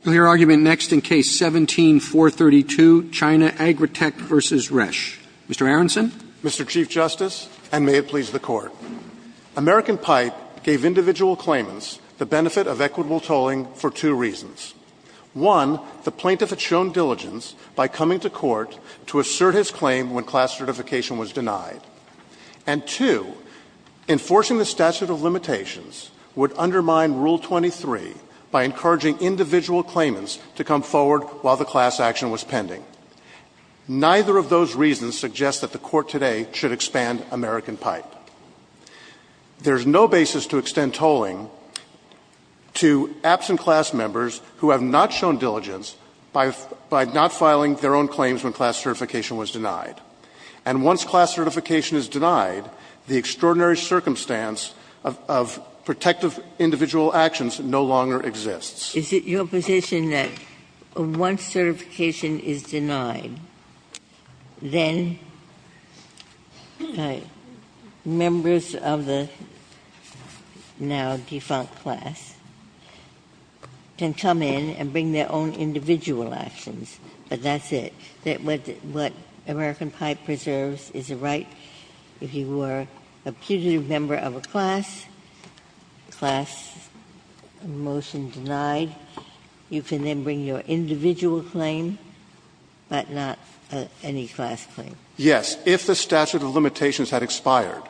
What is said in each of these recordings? Mr. Chief Justice, and may it please the Court. American Pipe gave individual claimants the benefit of equitable tolling for two reasons. One, the plaintiff had shown diligence by coming to court to assert his claim when class certification was denied. And two, enforcing the statute of limitations would undermine Rule 23 by encouraging individual claimants to come to court. Neither of those reasons suggest that the Court today should expand American Pipe. There's no basis to extend tolling to absent class members who have not shown diligence by not filing their own claims when class certification was denied. And once class certification is denied, the extraordinary circumstance of protective individual actions no longer exists. Ginsburg. Is it your position that once certification is denied, then members of the now defunct class can come in and bring their own individual actions, but that's it? That what American Pipe preserves is a right? If you were a putative member of a class, class motion denied, you can then bring your individual claim, but not any class claim? Yes. If the statute of limitations had expired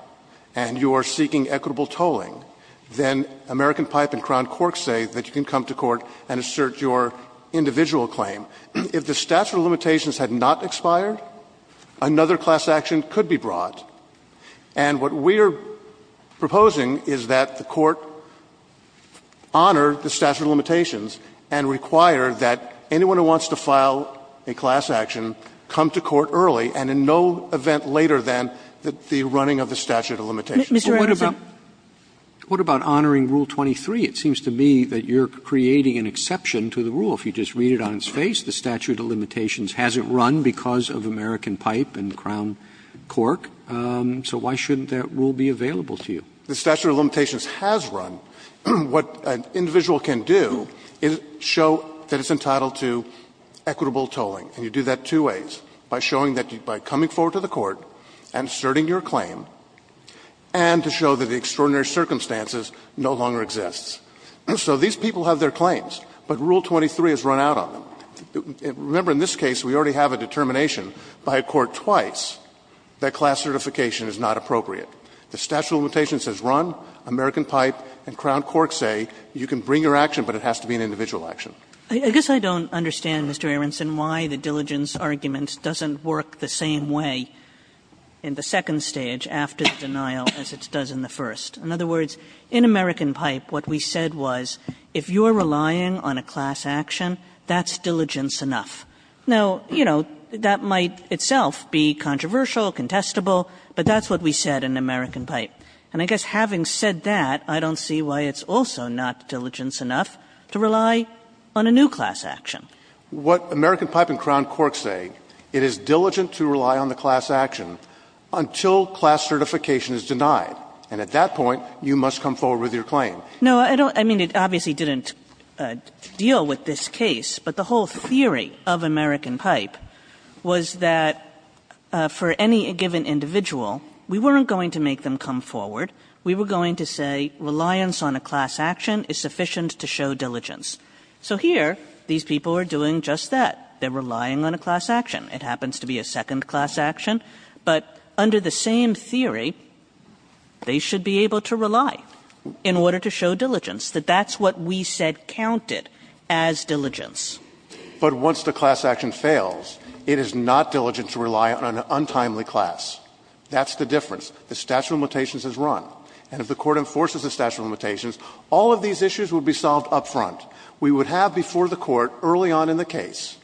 and you are seeking equitable tolling, then American Pipe and Crown Cork say that you can come to court and assert your individual claim. If the statute of limitations had not expired, another class action could be brought. And what we are proposing is that the Court honor the statute of limitations and require that anyone who wants to file a class action come to court early and in no event later than the running of the statute of limitations. Sotomayor, what about honoring Rule 23? It seems to me that you are creating an exception to the rule. If you just read it on its face, the statute of limitations hasn't run because of American Pipe and Crown Cork, so why shouldn't that rule be available to you? The statute of limitations has run. What an individual can do is show that it's entitled to equitable tolling. And you do that two ways. By showing that by coming forward to the court and asserting your claim, and to show that the extraordinary circumstances no longer exist. So these people have their claims, but Rule 23 has run out on them. Remember, in this case, we already have a determination by a court twice that class certification is not appropriate. The statute of limitations has run, American Pipe and Crown Cork say you can bring your action, but it has to be an individual action. Kagan. Kagan I guess I don't understand, Mr. Aronson, why the diligence argument doesn't work the same way in the second stage after the denial as it does in the first. In other words, in American Pipe, what we said was if you are relying on a class action, that's diligence enough. Now, you know, that might itself be controversial, contestable, but that's what we said in American Pipe. And I guess having said that, I don't see why it's also not diligence enough to rely on a new class action. What American Pipe and Crown Cork say, it is diligent to rely on the class action until class certification is denied. And at that point, you must come forward with your claim. No, I don't – I mean, it obviously didn't deal with this case, but the whole theory of American Pipe was that for any given individual, we weren't going to make them come forward. We were going to say reliance on a class action is sufficient to show diligence. So here, these people are doing just that. They're relying on a class action. It happens to be a second class action. But under the same theory, they should be able to rely in order to show diligence, that that's what we said counted as diligence. But once the class action fails, it is not diligent to rely on an untimely class. That's the difference. The statute of limitations is run. And if the Court enforces the statute of limitations, all of these issues will be solved up front. We would have before the Court, early on in the case,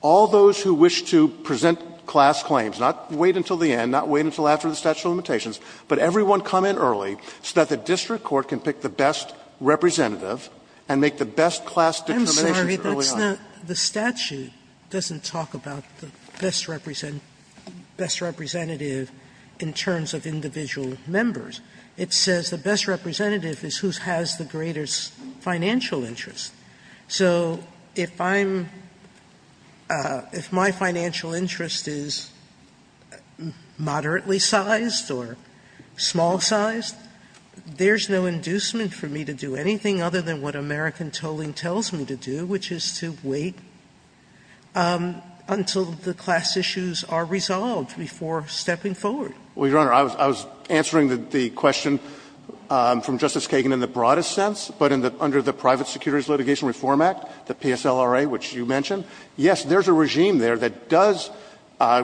all those who wish to present class claims, not wait until the end, not wait until after the statute of limitations, but everyone come in early so that the district court can pick the best representative and make the best class determinations early on. Sotomayor, I'm sorry, that's not – the statute doesn't talk about the best representative in terms of individual members. It says the best representative is who has the greatest financial interest. So if I'm – if my financial interest is moderately sized or small-sized, there's no inducement for me to do anything other than what American tolling tells me to do, which is to wait until the class issues are resolved before stepping forward. Well, Your Honor, I was answering the question from Justice Kagan in the broadest sense, but under the Private Securities Litigation Reform Act, the PSLRA, which you mentioned, yes, there's a regime there that does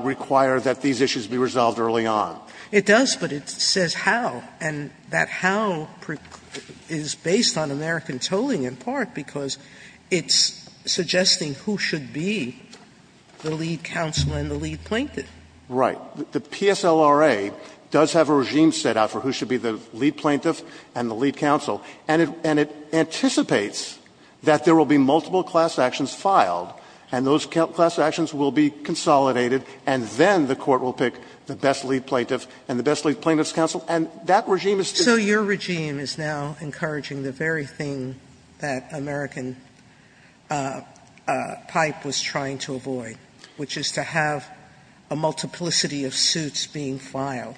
require that these issues be resolved early on. It does, but it says how, and that how is based on American tolling in part because it's suggesting who should be the lead counsel and the lead plaintiff. Right. The PSLRA does have a regime set out for who should be the lead plaintiff and the lead counsel, and it anticipates that there will be multiple class actions filed, and those class actions will be consolidated, and then the Court will pick the best lead plaintiff and the best lead plaintiff's counsel, and that regime is to be— Sotomayor, so your regime is now encouraging the very thing that American Pipe was trying to avoid, which is to have a multiplicity of suits being filed,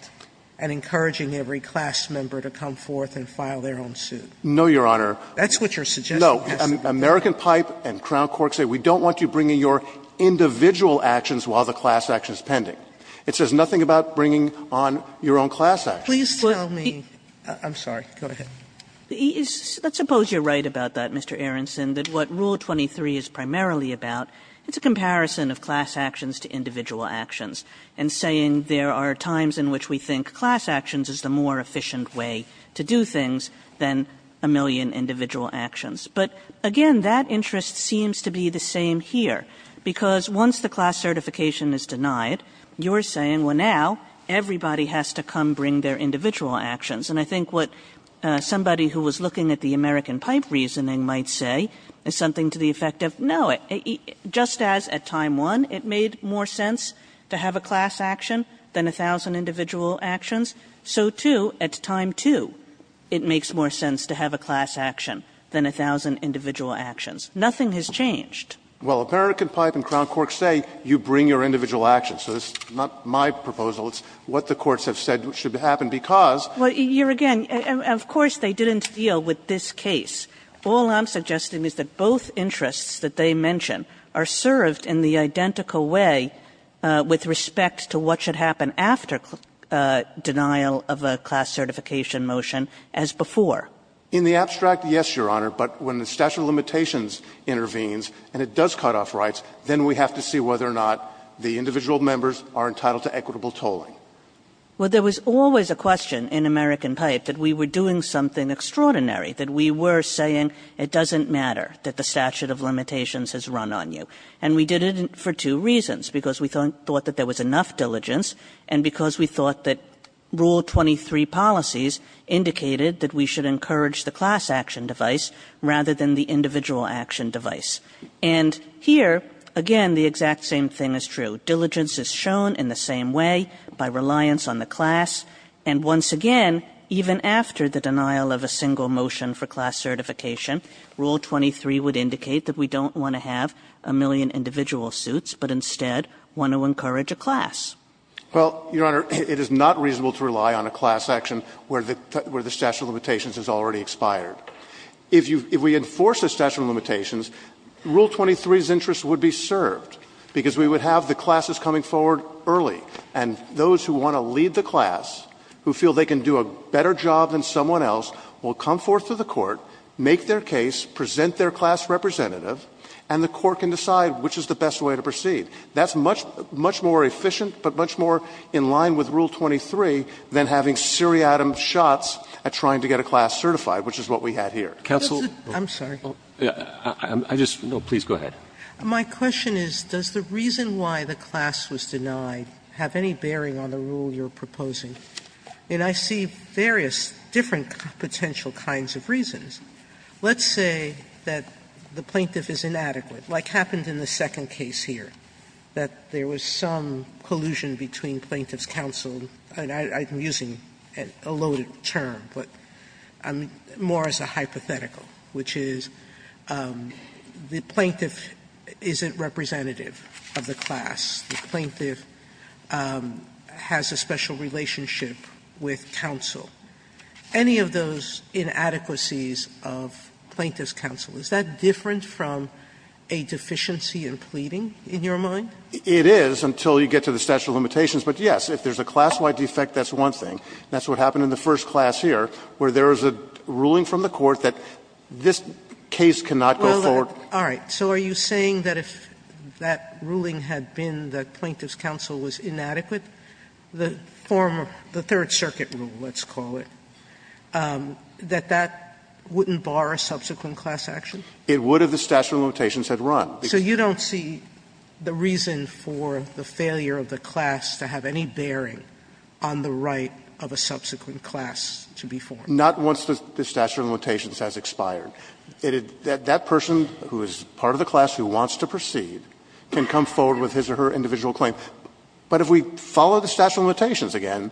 and encouraging every class member to come forth and file their own suit? No, Your Honor. That's what you're suggesting? No. American Pipe and Crown Court say we don't want you bringing your individual actions while the class action is pending. It says nothing about bringing on your own class actions. Please tell me. I'm sorry. Go ahead. Let's suppose you're right about that, Mr. Aronson, that what Rule 23 is primarily about, it's a comparison of class actions to individual actions, and saying there are times in which we think class actions is the more efficient way to do things than a million individual actions. But, again, that interest seems to be the same here, because once the class certification is denied, you're saying, well, now everybody has to come bring their individual actions. And I think what somebody who was looking at the American Pipe reasoning might say is something to the effect of, no, just as at time one it made more sense to have a class action than a thousand individual actions, so, too, at time two it makes more sense to have a class action than a thousand individual actions. Nothing has changed. Well, American Pipe and Crown Court say you bring your individual actions. So this is not my proposal. It's what the courts have said should happen because. Well, here again, of course they didn't deal with this case. All I'm suggesting is that both interests that they mention are served in the identical way with respect to what should happen after denial of a class certification motion as before. In the abstract, yes, Your Honor, but when the statute of limitations intervenes and it does cut off rights, then we have to see whether or not the individual members are entitled to equitable tolling. Well, there was always a question in American Pipe that we were doing something extraordinary, that we were saying it doesn't matter that the statute of limitations has run on you. And we did it for two reasons, because we thought that there was enough diligence and because we thought that Rule 23 policies indicated that we should encourage the class action device rather than the individual action device. And here, again, the exact same thing is true. Diligence is shown in the same way by reliance on the class. And once again, even after the denial of a single motion for class certification, Rule 23 would indicate that we don't want to have a million individual suits, but instead want to encourage a class. Well, Your Honor, it is not reasonable to rely on a class action where the statute of limitations has already expired. If you – if we enforce the statute of limitations, Rule 23's interest would be served, because we would have the classes coming forward early, and those who want to lead the class, who feel they can do a better job than someone else, will come forth to the court, make their case, present their class representative, and the court can decide which is the best way to proceed. That's much more efficient, but much more in line with Rule 23 than having seriatim shots at trying to get a class certified, which is what we had here. Roberts. I'm sorry. I just – no, please go ahead. My question is, does the reason why the class was denied have any bearing on the rule that you're proposing? And I see various different potential kinds of reasons. Let's say that the plaintiff is inadequate, like happened in the second case here, that there was some collusion between plaintiff's counsel, and I'm using a loaded term, but more as a hypothetical, which is the plaintiff isn't representative of the class, the plaintiff has a special relationship with counsel. Any of those inadequacies of plaintiff's counsel, is that different from a deficiency in pleading, in your mind? It is until you get to the statute of limitations, but, yes, if there's a class-wide defect, that's one thing. That's what happened in the first class here, where there is a ruling from the court that this case cannot go forward. Sotomayor, so are you saying that if that ruling had been that plaintiff's counsel was inadequate, the former – the Third Circuit rule, let's call it, that that wouldn't bar a subsequent class action? It would if the statute of limitations had run. So you don't see the reason for the failure of the class to have any bearing on the right of a subsequent class to be formed? Not once the statute of limitations has expired. That person who is part of the class who wants to proceed can come forward with his or her individual claim. But if we follow the statute of limitations again,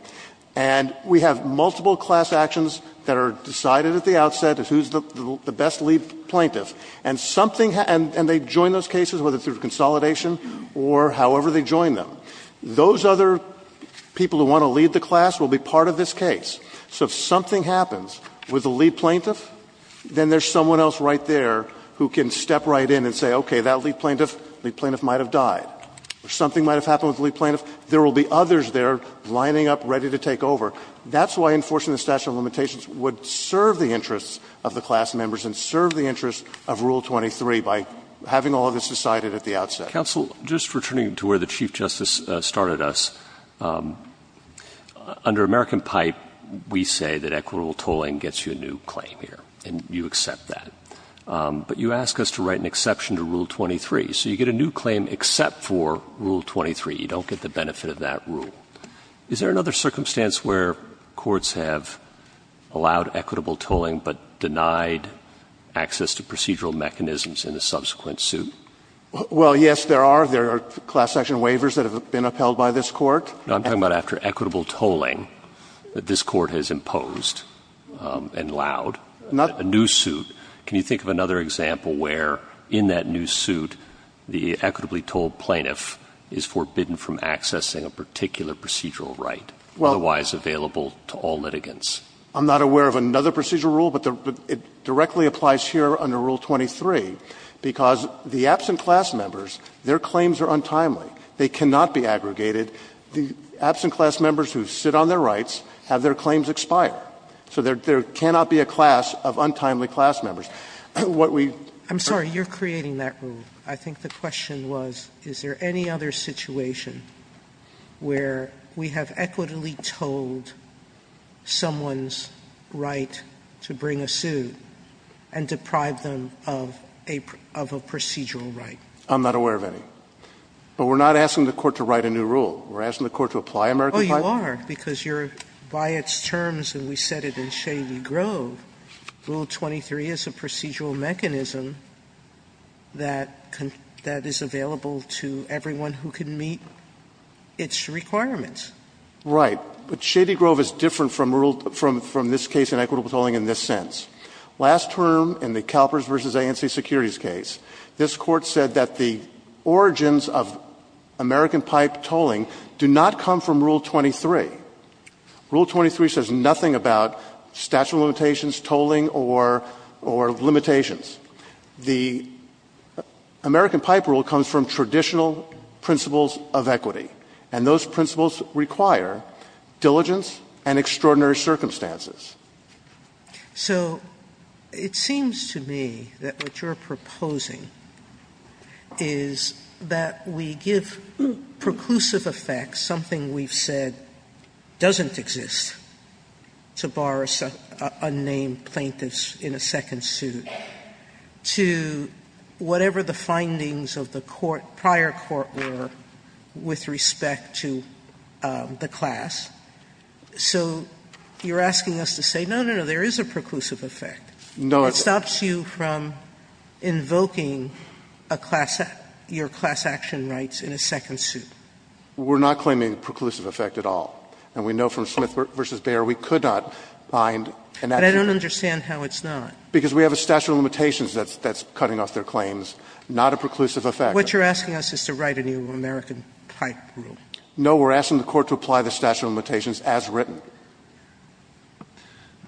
and we have multiple class actions that are decided at the outset as who's the best lead plaintiff, and something – and they join those cases, whether through consolidation or however they join them, those other people who want to lead the class will be part of this case. So if something happens with the lead plaintiff, then there's someone else right there who can step right in and say, okay, that lead plaintiff, lead plaintiff might have died. If something might have happened with the lead plaintiff, there will be others there lining up ready to take over. That's why enforcing the statute of limitations would serve the interests of the class members and serve the interests of Rule 23 by having all of this decided at the outset. Mr. Chief Justice, counsel, just returning to where the Chief Justice started us, under American Pipe, we say that equitable tolling gets you a new claim here, and you accept that. But you ask us to write an exception to Rule 23. So you get a new claim except for Rule 23. You don't get the benefit of that rule. Is there another circumstance where courts have allowed equitable tolling but denied access to procedural mechanisms in a subsequent suit? Well, yes, there are. There are class action waivers that have been upheld by this Court. Now, I'm talking about after equitable tolling that this Court has imposed and allowed a new suit. Can you think of another example where in that new suit the equitably tolled plaintiff is forbidden from accessing a particular procedural right, otherwise available to all litigants? I'm not aware of another procedural rule, but it directly applies here under Rule 23, because the absent class members, their claims are untimely. They cannot be aggregated. The absent class members who sit on their rights have their claims expire. So there cannot be a class of untimely class members. What we do to create that rule, I think the question was, is there any other situation where we have equitably tolled someone's right to bring a suit and deprive them of a procedural right? I'm not aware of any. But we're not asking the Court to write a new rule. We're asking the Court to apply American Title. Oh, you are, because you're by its terms, and we said it in Shady Grove, Rule 23 is a procedural mechanism that is available to everyone who can meet its requirements. Right. But Shady Grove is different from this case in equitable tolling in this sense. Last term in the CalPERS v. ANC Securities case, this Court said that the origins of American pipe tolling do not come from Rule 23. Rule 23 says nothing about statute of limitations, tolling, or limitations. The American pipe rule comes from traditional principles of equity. And those principles require diligence and extraordinary circumstances. So it seems to me that what you're proposing is that we give preclusive effects, something we've said doesn't exist, to bar unnamed plaintiffs in a second suit, to whatever the findings of the prior court were with respect to the class. So you're asking us to say, no, no, no, there is a preclusive effect. No, it's not. It stops you from invoking a class act, your class action rights in a second suit. We're not claiming preclusive effect at all. And we know from Smith v. Bayer we could not find an action. But I don't understand how it's not. Because we have a statute of limitations that's cutting off their claims, not a preclusive effect. What you're asking us is to write a new American pipe rule. No, we're asking the Court to apply the statute of limitations as written.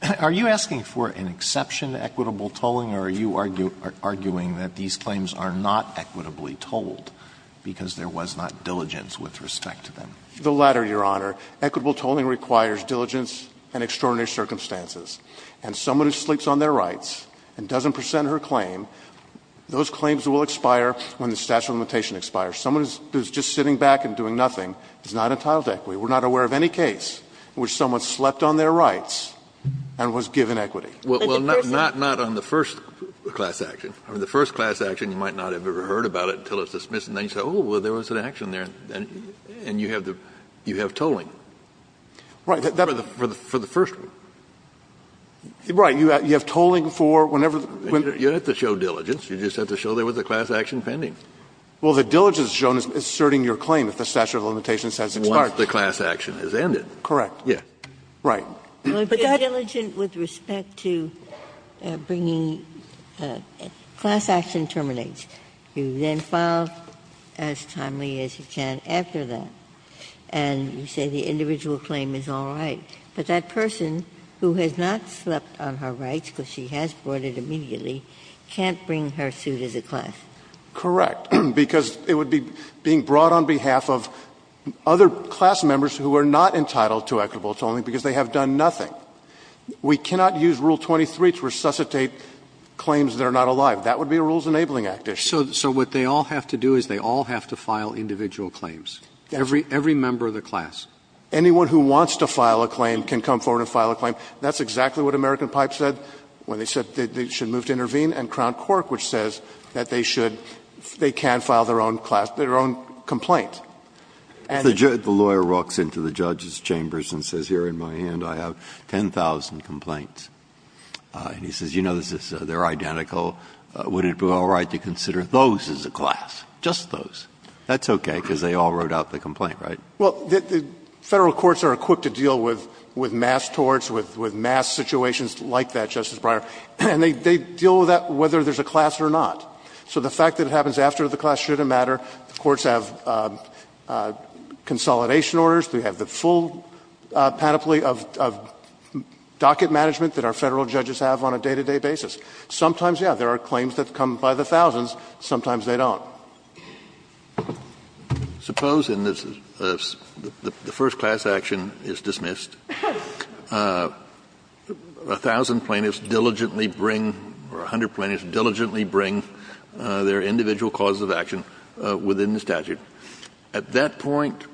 Alito, are you asking for an exception to equitable tolling, or are you arguing that these claims are not equitably tolled because there was not diligence with respect to them? The latter, Your Honor. Equitable tolling requires diligence and extraordinary circumstances. And someone who sleeps on their rights and doesn't present her claim, those claims will expire when the statute of limitations expires. Someone who's just sitting back and doing nothing is not entitled to equity. We're not aware of any case in which someone slept on their rights and was given equity. Kennedy, not on the first class action. On the first class action, you might not have ever heard about it until it's dismissed. And then you say, oh, well, there was an action there. And you have tolling. Right. For the first one. Right. You have tolling for whenever the one. You don't have to show diligence. You just have to show there was a class action pending. Well, the diligence is shown as asserting your claim if the statute of limitations has expired. Once the class action has ended. Correct. Yes. Right. But that's. But diligence with respect to bringing the class action terminates. You then file as timely as you can after that. And you say the individual claim is all right. But that person who has not slept on her rights, because she has brought it immediately, can't bring her suit as a class. Correct. Because it would be being brought on behalf of other class members who are not entitled to equitable tolling because they have done nothing. We cannot use Rule 23 to resuscitate claims that are not alive. That would be a Rules Enabling Act issue. So what they all have to do is they all have to file individual claims. Every member of the class. Anyone who wants to file a claim can come forward and file a claim. That's exactly what American Pipe said when they said they should move to intervene. And Crown Cork, which says that they should, they can file their own class, their own complaint. And the judge. The lawyer walks into the judge's chambers and says, here in my hand I have 10,000 complaints. And he says, you know, they're identical. Would it be all right to consider those as a class, just those? That's okay, because they all wrote out the complaint, right? Well, the Federal courts are equipped to deal with mass torts, with mass situations like that, Justice Breyer. And they deal with that whether there's a class or not. So the fact that it happens after the class shouldn't matter. The courts have consolidation orders. They have the full panoply of docket management that our Federal judges have on a day-to-day basis. Sometimes, yeah, there are claims that come by the thousands. Sometimes they don't. Kennedy. Kennedy. Suppose in this, the first class action is dismissed. A thousand plaintiffs diligently bring, or a hundred plaintiffs diligently bring their individual causes of action within the statute. At that point,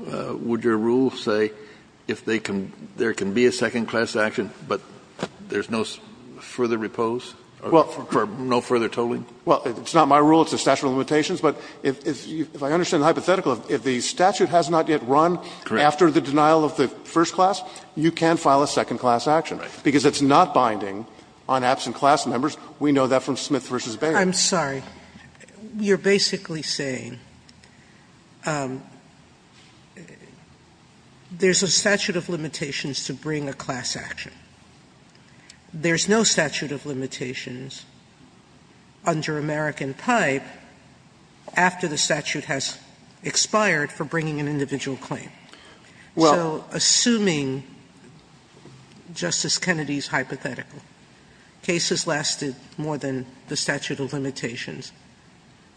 would your rule say if they can, there can be a second class action, but there's no further repose or no further tolling? Well, it's not my rule. It's the statute of limitations. But if I understand the hypothetical, if the statute has not yet run after the denial of the first class, you can file a second class action. Because it's not binding on absent class members. We know that from Smith v. Baird. I'm sorry. You're basically saying there's a statute of limitations to bring a class action. There's no statute of limitations under American pipe after the statute has expired for bringing an individual claim. Well. So assuming Justice Kennedy's hypothetical, cases lasted more than the statute of limitations,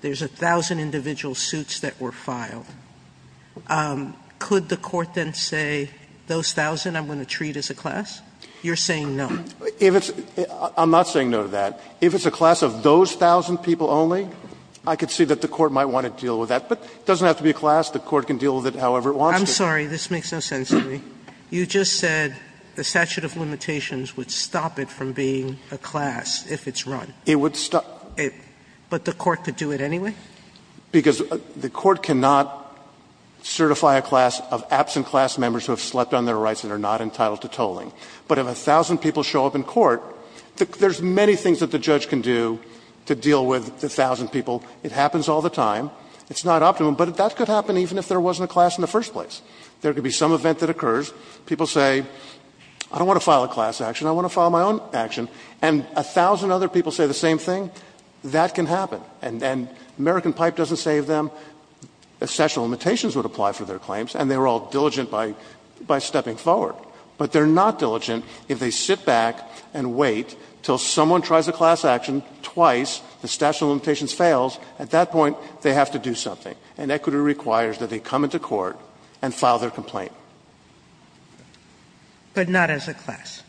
there's a thousand individual suits that were filed. Could the Court then say, those thousand I'm going to treat as a class? You're saying no. If it's – I'm not saying no to that. If it's a class of those thousand people only, I could see that the Court might want to deal with that. But it doesn't have to be a class. The Court can deal with it however it wants to. I'm sorry. This makes no sense to me. You just said the statute of limitations would stop it from being a class if it's run. It would stop. But the Court could do it anyway? Because the Court cannot certify a class of absent class members who have slept on their rights and are not entitled to tolling. But if a thousand people show up in court, there's many things that the judge can do to deal with the thousand people. It happens all the time. It's not optimum. But that could happen even if there wasn't a class in the first place. There could be some event that occurs. People say, I don't want to file a class action. I want to file my own action. And a thousand other people say the same thing. That can happen. And American Pipe doesn't save them. The statute of limitations would apply for their claims. And they were all diligent by stepping forward. But they're not diligent if they sit back and wait until someone tries a class action twice, the statute of limitations fails, at that point they have to do something. And equity requires that they come into court and file their complaint. But not as a class?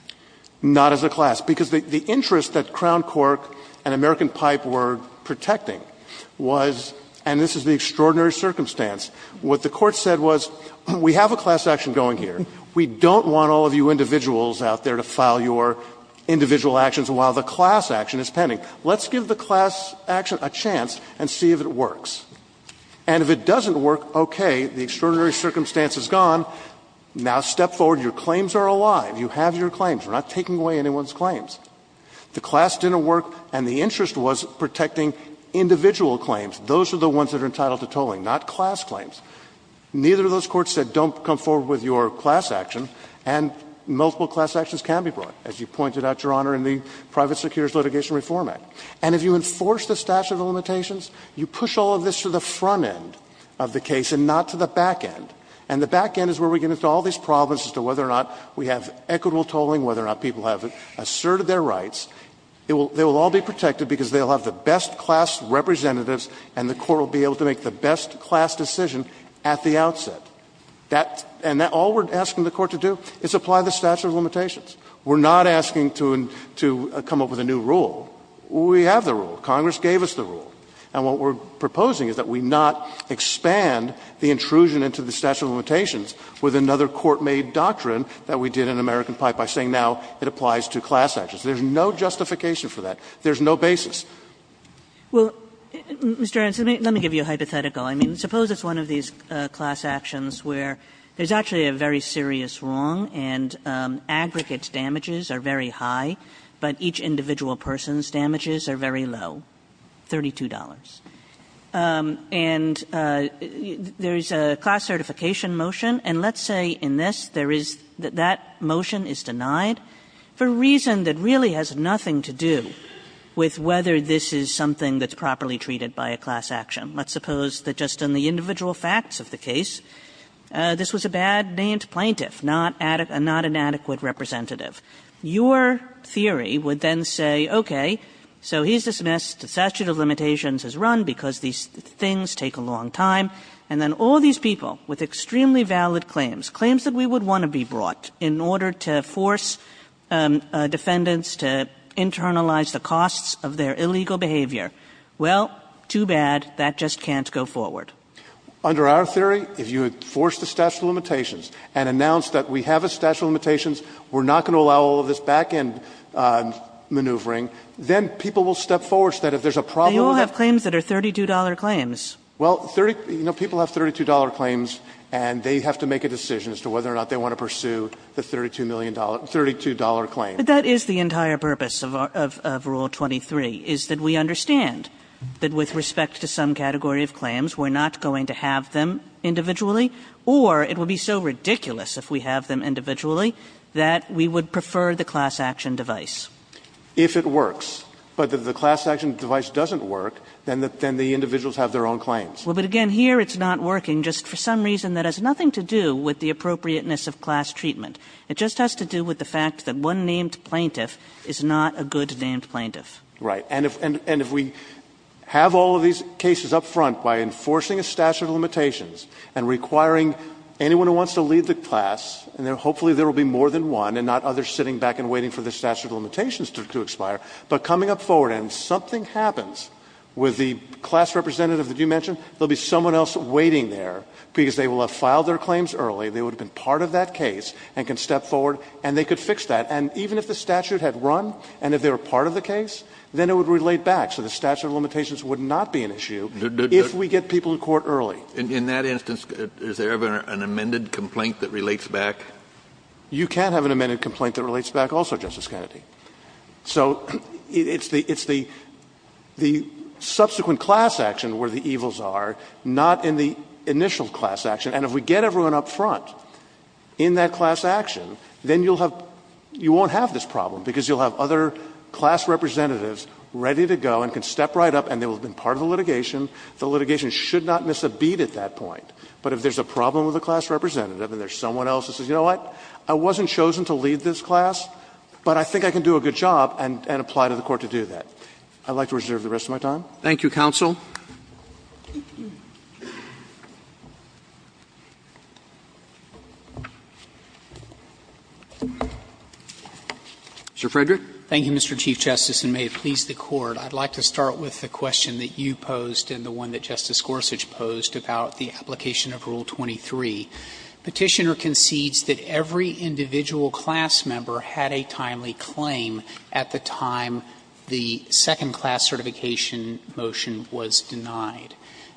Not as a class. Because the interest that Crown Cork and American Pipe were protecting was, and this is the extraordinary circumstance, what the Court said was, we have a class action going here. We don't want all of you individuals out there to file your individual actions while the class action is pending. Let's give the class action a chance and see if it works. And if it doesn't work, okay, the extraordinary circumstance is gone. Now step forward. Your claims are alive. You have your claims. We're not taking away anyone's claims. The class didn't work and the interest was protecting individual claims. Those are the ones that are entitled to tolling, not class claims. Neither of those courts said don't come forward with your class action, and multiple class actions can be brought, as you pointed out, Your Honor, in the Private Secures Litigation Reform Act. And if you enforce the statute of limitations, you push all of this to the front end of the case and not to the back end. And the back end is where we get into all these problems as to whether or not we have equitable tolling, whether or not people have asserted their rights. They will all be protected because they will have the best class representatives and the court will be able to make the best class decision at the outset. And all we're asking the court to do is apply the statute of limitations. We're not asking to come up with a new rule. We have the rule. Congress gave us the rule. And what we're proposing is that we not expand the intrusion into the statute of limitations with another court-made doctrine that we did in American Pi by saying now it applies to class actions. There's no justification for that. There's no basis. Kagan well Mr. Ernst, let me give you a hypothetical. I mean, suppose it's one of these class actions where there's actually a very serious wrong, and aggregate damages are very high, but each individual person's damages are very low-$32. And there's a class certification motion, and let's say in this that there is that that motion is denied for a reason that really has nothing to do with whether this is something that's properly treated by a class action. Let's suppose that just in the individual facts of the case, this was a bad-named plaintiff, not an adequate representative. Your theory would then say, okay, so he's dismissed, the statute of limitations is run because these things take a long time, and then all these people with extremely valid claims, claims that we would want to be brought in order to force defendants to internalize the costs of their illegal behavior, well, too bad, that just can't go forward. Under our theory, if you force the statute of limitations and announce that we have a statute of limitations, we're not going to allow all of this back-end maneuvering, then people will step forward so that if there's a problem with that. They all have claims that are $32 claims. Well, you know, people have $32 claims, and they have to make a decision as to whether or not they want to pursue the $32 million, $32 claims. Kagan. But that is the entire purpose of Rule 23, is that we understand that with respect to some category of claims, we're not going to have them individually, or it would be so ridiculous if we have them individually that we would prefer the class-action device. If it works, but if the class-action device doesn't work, then the individuals have their own claims. Well, but again, here it's not working just for some reason that has nothing to do with the appropriateness of class treatment. It just has to do with the fact that one named plaintiff is not a good named plaintiff. Right. And if we have all of these cases up front by enforcing a statute of limitations and requiring anyone who wants to leave the class, and hopefully there will be more than one and not others sitting back and waiting for the statute of limitations to expire, but coming up forward and something happens with the class representative that you mentioned, there will be someone else waiting there because they will have filed their claims early. They would have been part of that case and can step forward and they could fix that. And even if the statute had run and if they were part of the case, then it would relate back. So the statute of limitations would not be an issue if we get people in court early. Kennedy. In that instance, is there ever an amended complaint that relates back? You can't have an amended complaint that relates back also, Justice Kennedy. So it's the subsequent class-action where the evils are, not in the initial class-action. And if we get everyone up front in that class-action, then you'll have – you won't have this problem because you'll have other class representatives ready to go and can step right up and they will have been part of the litigation. The litigation should not miss a beat at that point. But if there's a problem with the class representative and there's someone else that says, you know what, I wasn't chosen to lead this class, but I think I can do a good job and apply to the court to do that. I'd like to reserve the rest of my time. Thank you, counsel. Mr. Frederick. Frederick, thank you, Mr. Chief Justice, and may it please the Court. I'd like to start with the question that you posed and the one that Justice Gorsuch posed about the application of Rule 23. Petitioner concedes that every individual class member had a timely claim at the time the second class certification motion was denied.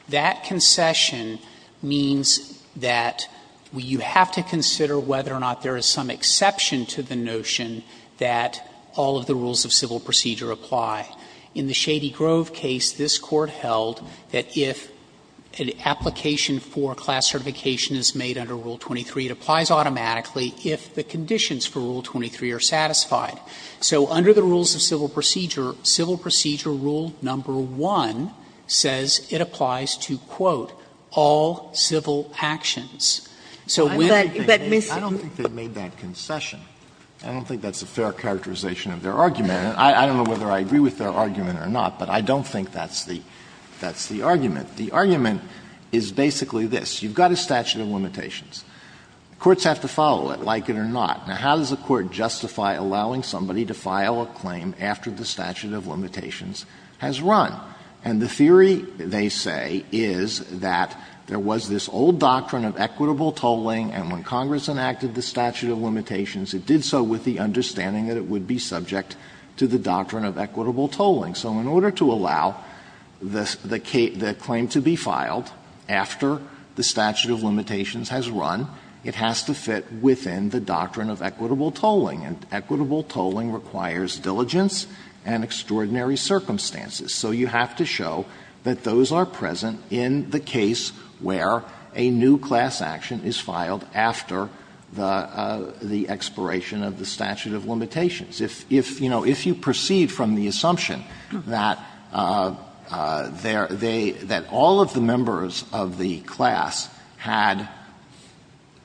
That concession means that you have to consider whether or not there is some exception to the notion that all of the rules of civil procedure apply. In the Shady Grove case, this Court held that if an application for class certification is made under Rule 23, it applies automatically if the conditions for Rule 23 are satisfied. So under the rules of civil procedure, civil procedure Rule No. 1 says it applies to, quote, all civil actions. So when that missing. Alito, I don't think they made that concession. I don't think that's a fair characterization of their argument. I don't know whether I agree with their argument or not, but I don't think that's the argument. The argument is basically this. You've got a statute of limitations. Courts have to follow it, like it or not. Now, how does a court justify allowing somebody to file a claim after the statute of limitations has run? And the theory, they say, is that there was this old doctrine of equitable tolling, and when Congress enacted the statute of limitations, it did so with the understanding that it would be subject to the doctrine of equitable tolling. So in order to allow the claim to be filed after the statute of limitations has run, it has to fit within the doctrine of equitable tolling. And equitable tolling requires diligence and extraordinary circumstances. So you have to show that those are present in the case where a new class action is filed after the expiration of the statute of limitations. If, you know, if you proceed from the assumption that there they that all of the members of the class had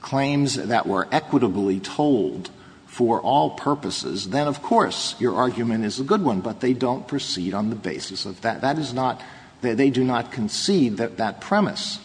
claims that were equitably tolled for all purposes, then, of course, your argument is a good one, but they don't proceed on the basis of that. That is not they do not concede that premise.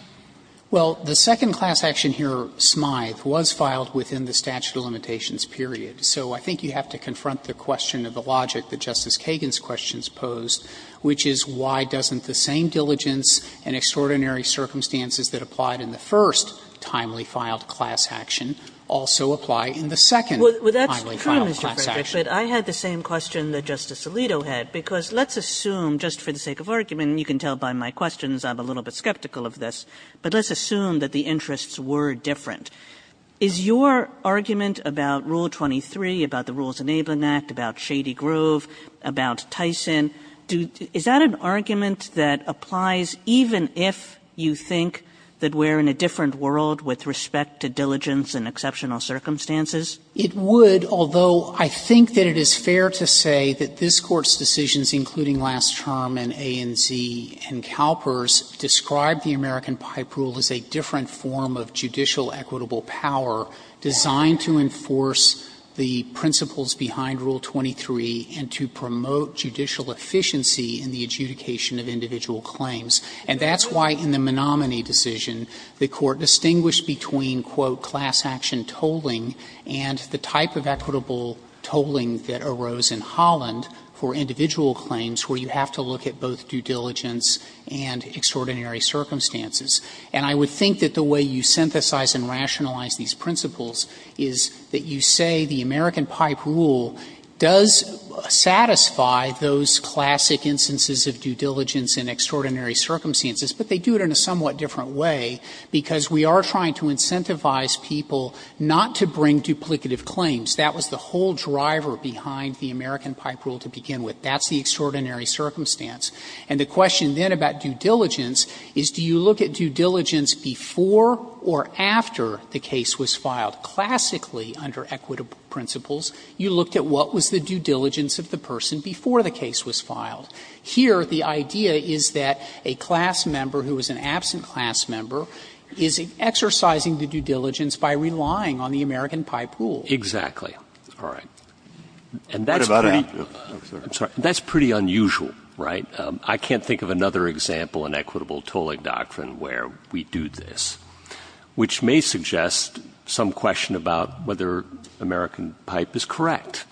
Well, the second class action here, Smythe, was filed within the statute of limitations, period. So I think you have to confront the question of the logic that Justice Kagan's questions pose, which is why doesn't the same diligence and extraordinary circumstances that applied in the first timely filed class action also apply in the second timely filed class action? Kagan. Kagan. Kagan. Kagan. But I had the same question that Justice Alito had, because let's assume, just for the sake of argument, and you can tell by my questions I'm a little bit skeptical of this, but let's assume that the interests were different. Is your argument about Rule 23, about the Rules Enabling Act, about Shady Grove, about Tyson, is that an argument that applies even if you think that we're in a different world with respect to diligence and exceptional circumstances? It would, although I think that it is fair to say that this Court's decisions, including last term and A and Z and Kalper's, describe the American Pipe Rule as a different form of judicial equitable power designed to enforce the principles behind Rule 23 and to promote judicial efficiency in the adjudication of individual claims. And that's why in the Menominee decision, the Court distinguished between, quote, class action tolling and the type of equitable tolling that arose in Holland for individual claims where you have to look at both due diligence and extraordinary circumstances. And I would think that the way you synthesize and rationalize these principles is that you say the American Pipe Rule does satisfy those classic instances of due diligence and extraordinary circumstances, but they do it in a somewhat different way, because we are trying to incentivize people not to bring duplicative claims. That was the whole driver behind the American Pipe Rule to begin with. That's the extraordinary circumstance. And the question then about due diligence is, do you look at due diligence before or after the case was filed? Classically, under equitable principles, you looked at what was the due diligence of the person before the case was filed. Here, the idea is that a class member who is an absent class member is exercising the due diligence by relying on the American Pipe Rule. Exactly. All right. And that's pretty unusual, right? I can't think of another example in equitable tolling doctrine where we do this. Which may suggest some question about whether American Pipe is correct.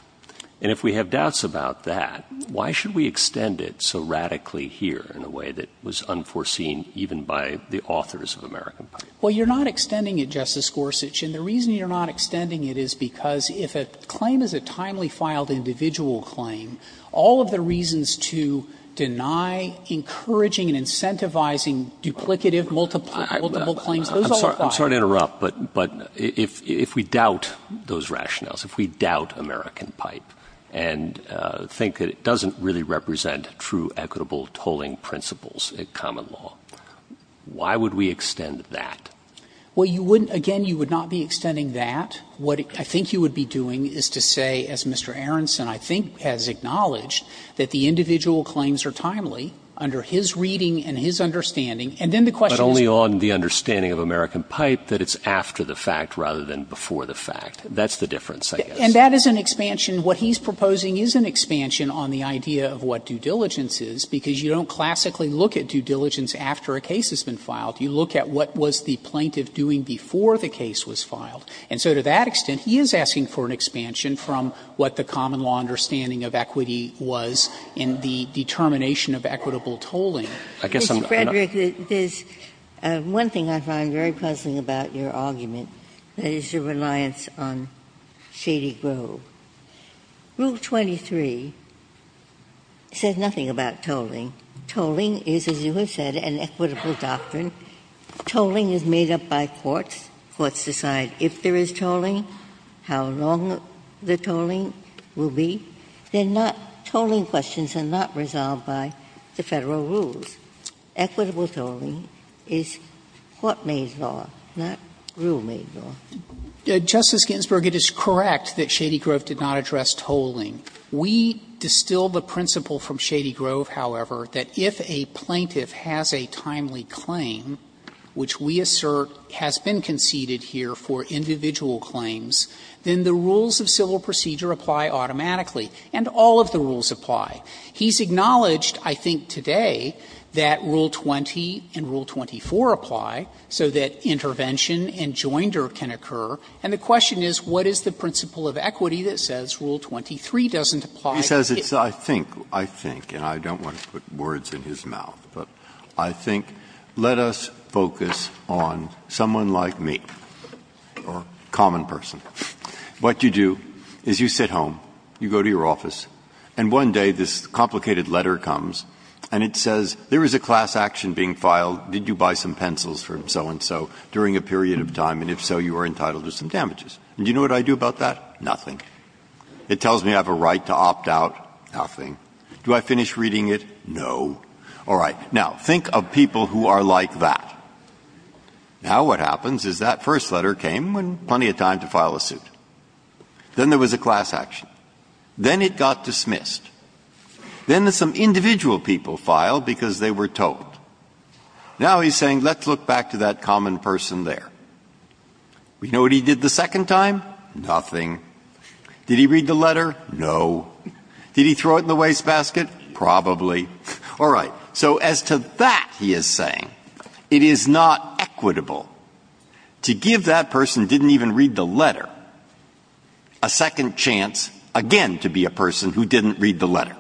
And if we have doubts about that, why should we extend it so radically here in a way that was unforeseen even by the authors of American Pipe? Well, you're not extending it, Justice Gorsuch. And the reason you're not extending it is because if a claim is a timely filed individual claim, all of the reasons to deny encouraging and incentivizing duplicative, multiple claims, those all apply. I'm sorry to interrupt, but if we doubt those rationales, if we doubt American Pipe and think that it doesn't really represent true equitable tolling principles in common law, why would we extend that? Well, you wouldn't – again, you would not be extending that. What I think you would be doing is to say, as Mr. Aronson, I think, has acknowledged that the individual claims are timely under his reading and his understanding. And then the question is – But only on the understanding of American Pipe that it's after the fact rather than before the fact. That's the difference, I guess. And that is an expansion. What he's proposing is an expansion on the idea of what due diligence is, because you don't classically look at due diligence after a case has been filed. You look at what was the plaintiff doing before the case was filed. And so to that extent, he is asking for an expansion from what the common law understanding of equity was in the determination of equitable tolling. I guess I'm not going to go into that. Ginsburg. Mr. Frederick, there's one thing I find very puzzling about your argument, that is your reliance on Shady Grove. Rule 23 says nothing about tolling. Tolling is, as you have said, an equitable doctrine. Tolling is made up by courts. Courts decide if there is tolling, how long the tolling will be. They're not tolling questions and not resolved by the Federal rules. Equitable tolling is court-made law, not rule-made law. Frederick, it is correct that Shady Grove did not address tolling. We distill the principle from Shady Grove, however, that if a plaintiff has a timely claim, which we assert has been conceded here for individual claims, then the rules of civil procedure apply automatically, and all of the rules apply. He's acknowledged, I think, today, that Rule 20 and Rule 24 apply, so that intervention and joinder can occur, and the question is, what is the principle of equity that says Rule 23 doesn't apply? He says it's, I think, I think, and I don't want to put words in his mouth, but I think let us focus on someone like me, or a common person. What you do is you sit home, you go to your office, and one day this complicated letter comes, and it says, there is a class action being filed, did you buy some pencils from so-and-so during a period of time, and if so, you are entitled to some damages, and do you know what I do about that? Nothing. It tells me I have a right to opt out, nothing. Do I finish reading it? No. All right, now, think of people who are like that. Now, what happens is that first letter came when plenty of time to file a suit. Then there was a class action. Then it got dismissed. Then some individual people filed because they were told. Now he's saying, let's look back to that common person there. Do you know what he did the second time? Nothing. Did he read the letter? No. Did he throw it in the wastebasket? Probably. All right. So as to that, he is saying, it is not equitable to give that person who didn't even read the letter a second chance again to be a person who didn't read the letter.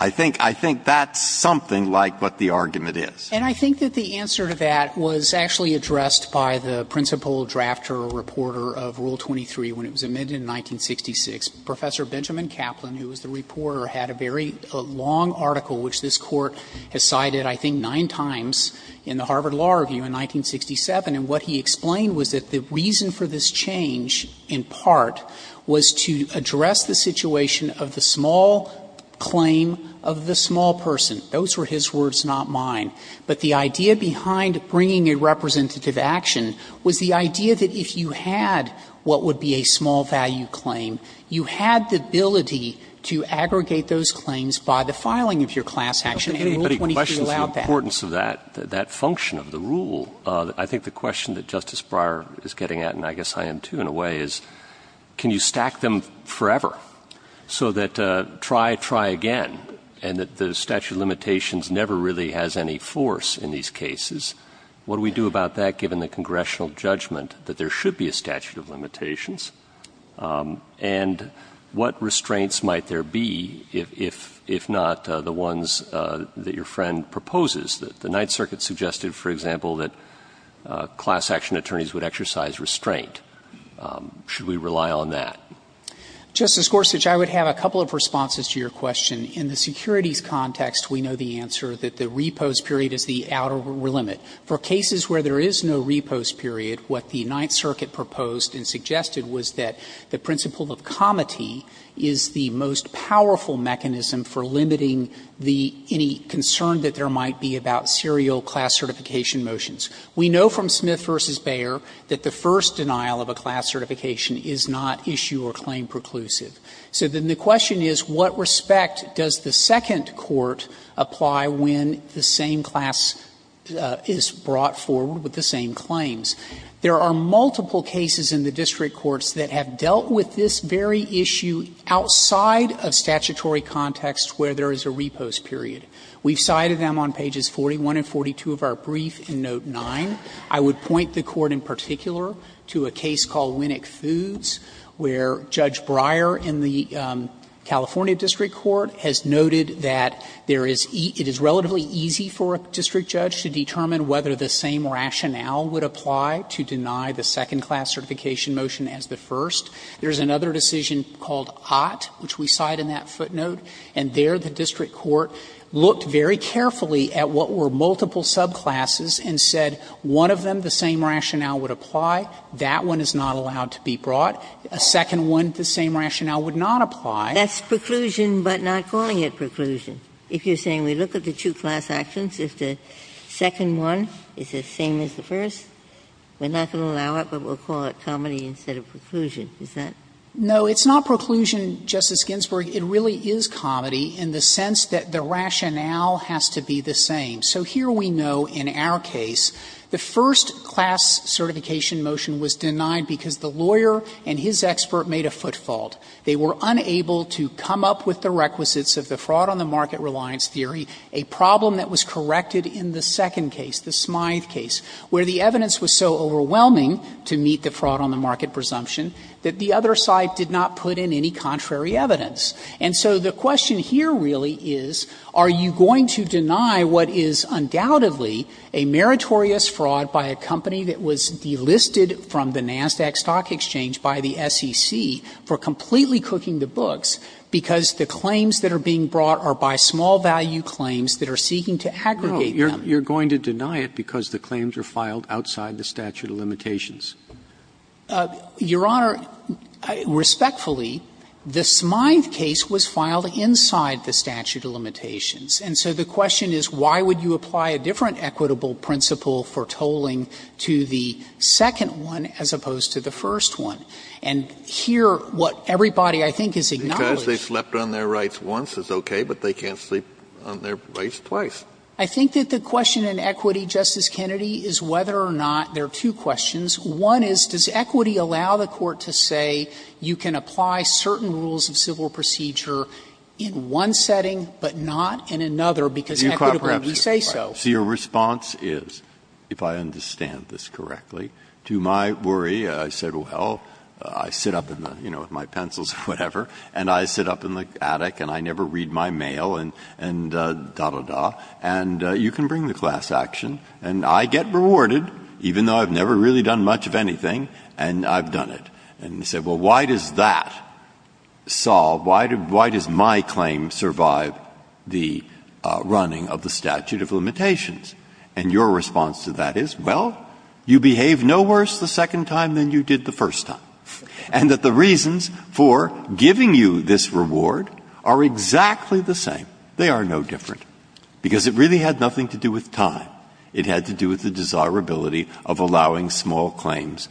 I think that's something like what the argument is. And I think that the answer to that was actually addressed by the principal drafter or reporter of Rule 23 when it was amended in 1966. Professor Benjamin Kaplan, who was the reporter, had a very long article which this Court has cited I think nine times in the Harvard Law Review in 1967. And what he explained was that the reason for this change, in part, was to address the situation of the small claim of the small person. Those were his words, not mine. But the idea behind bringing a representative action was the idea that if you had what would be a small value claim, you had the ability to aggregate those claims by the filing of your class action in Rule 23 without that. If anybody questions the importance of that, that function of the rule, I think the question that Justice Breyer is getting at, and I guess I am, too, in a way, is can you stack them forever so that try, try again, and that the statute of limitations never really has any force in these cases? What do we do about that given the congressional judgment that there should be a statute of limitations? And what restraints might there be if not the ones that your friend proposes? The Ninth Circuit suggested, for example, that class action attorneys would exercise restraint. Should we rely on that? Justice Gorsuch, I would have a couple of responses to your question. In the securities context, we know the answer that the repose period is the outer limit. For cases where there is no repose period, what the Ninth Circuit proposed and suggested was that the principle of comity is the most powerful mechanism for limiting the any concern that there might be about serial class certification motions. We know from Smith v. Bayer that the first denial of a class certification is not issue or claim preclusive. So then the question is, what respect does the second court apply when the same class is brought forward with the same claims? There are multiple cases in the district courts that have dealt with this very issue outside of statutory context where there is a repose period. We've cited them on pages 41 and 42 of our brief in Note 9. I would point the Court in particular to a case called Winnick Foods, where Judge Breyer in the California district court has noted that there is eat – it is relatively easy for a district judge to determine whether the same rationale would apply to deny the second class certification motion as the first. There is another decision called Ott, which we cite in that footnote, and there the district court looked very carefully at what were multiple subclasses and said one of them the same rationale would apply, that one is not allowed to be brought, a second one the same rationale would not apply. Ginsburg, That's preclusion, but not calling it preclusion. If you're saying we look at the two class actions, if the second one is the same as the first, we're not going to allow it, but we'll call it comedy instead of preclusion. Is that? Frederick, No. It's not preclusion, Justice Ginsburg. It really is comedy in the sense that the rationale has to be the same. So here we know in our case the first class certification motion was denied because the lawyer and his expert made a foot fault. They were unable to come up with the requisites of the fraud on the market reliance theory, a problem that was corrected in the second case, the Smythe case, where the evidence was so overwhelming to meet the fraud on the market presumption that the other side did not put in any contrary evidence. And so the question here really is, are you going to deny what is undoubtedly a meritorious fraud by a company that was delisted from the NASDAQ Stock Exchange by the SEC for completely cooking the books, because the claims that are being brought are by small-value claims that are seeking to aggregate them? Roberts, No, you're going to deny it because the claims are filed outside the statute of limitations. Frederick, Your Honor, respectfully, the Smythe case was filed inside the statute of limitations. And so the question is, why would you apply a different equitable principle for tolling to the second one as opposed to the first one? And here, what everybody, I think, has acknowledged is that the question in equity, Justice Kennedy, is whether or not there are two questions. One is, does equity allow the Court to say you can apply certain rules of civil procedure in one setting but not in another because equitably we say so? So your response is, if I understand this correctly, to my worry, I said, well, I sit up in the, you know, with my pencils or whatever, and I sit up in the attic and I never read my mail and da, da, da, and you can bring the class action, and I get rewarded, even though I've never really done much of anything, and I've done it, and you say, well, why does that solve, why does my claim survive the running of the statute of limitations? And your response to that is, well, you behave no worse the second time than you did the first time, and that the reasons for giving you this reward are exactly the same. They are no different, because it really had nothing to do with time. It had to do with the desirability of allowing small claims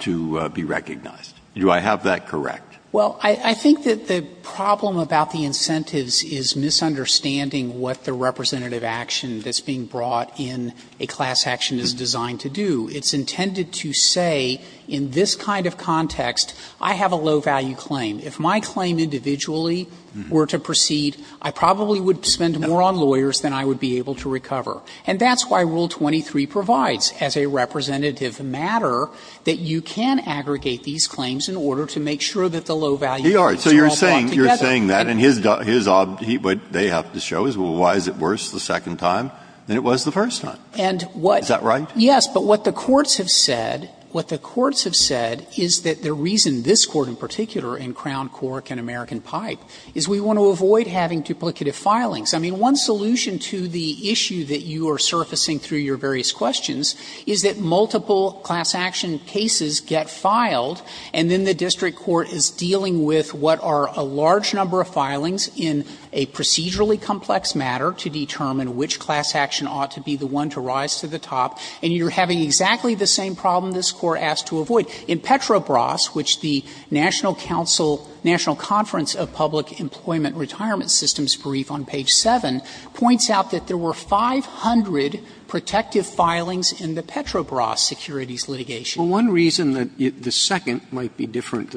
to be recognized. Do I have that correct? Well, I think that the problem about the incentives is misunderstanding what the representative action that's being brought in a class action is designed to do. It's intended to say, in this kind of context, I have a low-value claim. If my claim individually were to proceed, I probably would spend more on lawyers than I would be able to recover. And that's why Rule 23 provides, as a representative matter, that you can aggregate these claims in order to make sure that the low-value claims are all brought together. Breyer, so you're saying, you're saying that, and his, his, they have to show is, well, why is it worse the second time than it was the first time? Is that right? Yes, but what the courts have said, what the courts have said is that the reason this Court in particular, in Crown, Cork, and American Pipe, is we want to avoid having duplicative filings. I mean, one solution to the issue that you are surfacing through your various questions is that multiple class action cases get filed, and then the district court is dealing with what are a large number of filings in a procedurally complex matter to determine which class action ought to be the one to rise to the top, and you're having exactly the same problem this Court asked to avoid. In Petrobras, which the National Council, National Conference of Public Employment and Retirement Systems brief on page 7, points out that there were 500 protective filings in the Petrobras securities litigation. Well, one reason that the second might be different,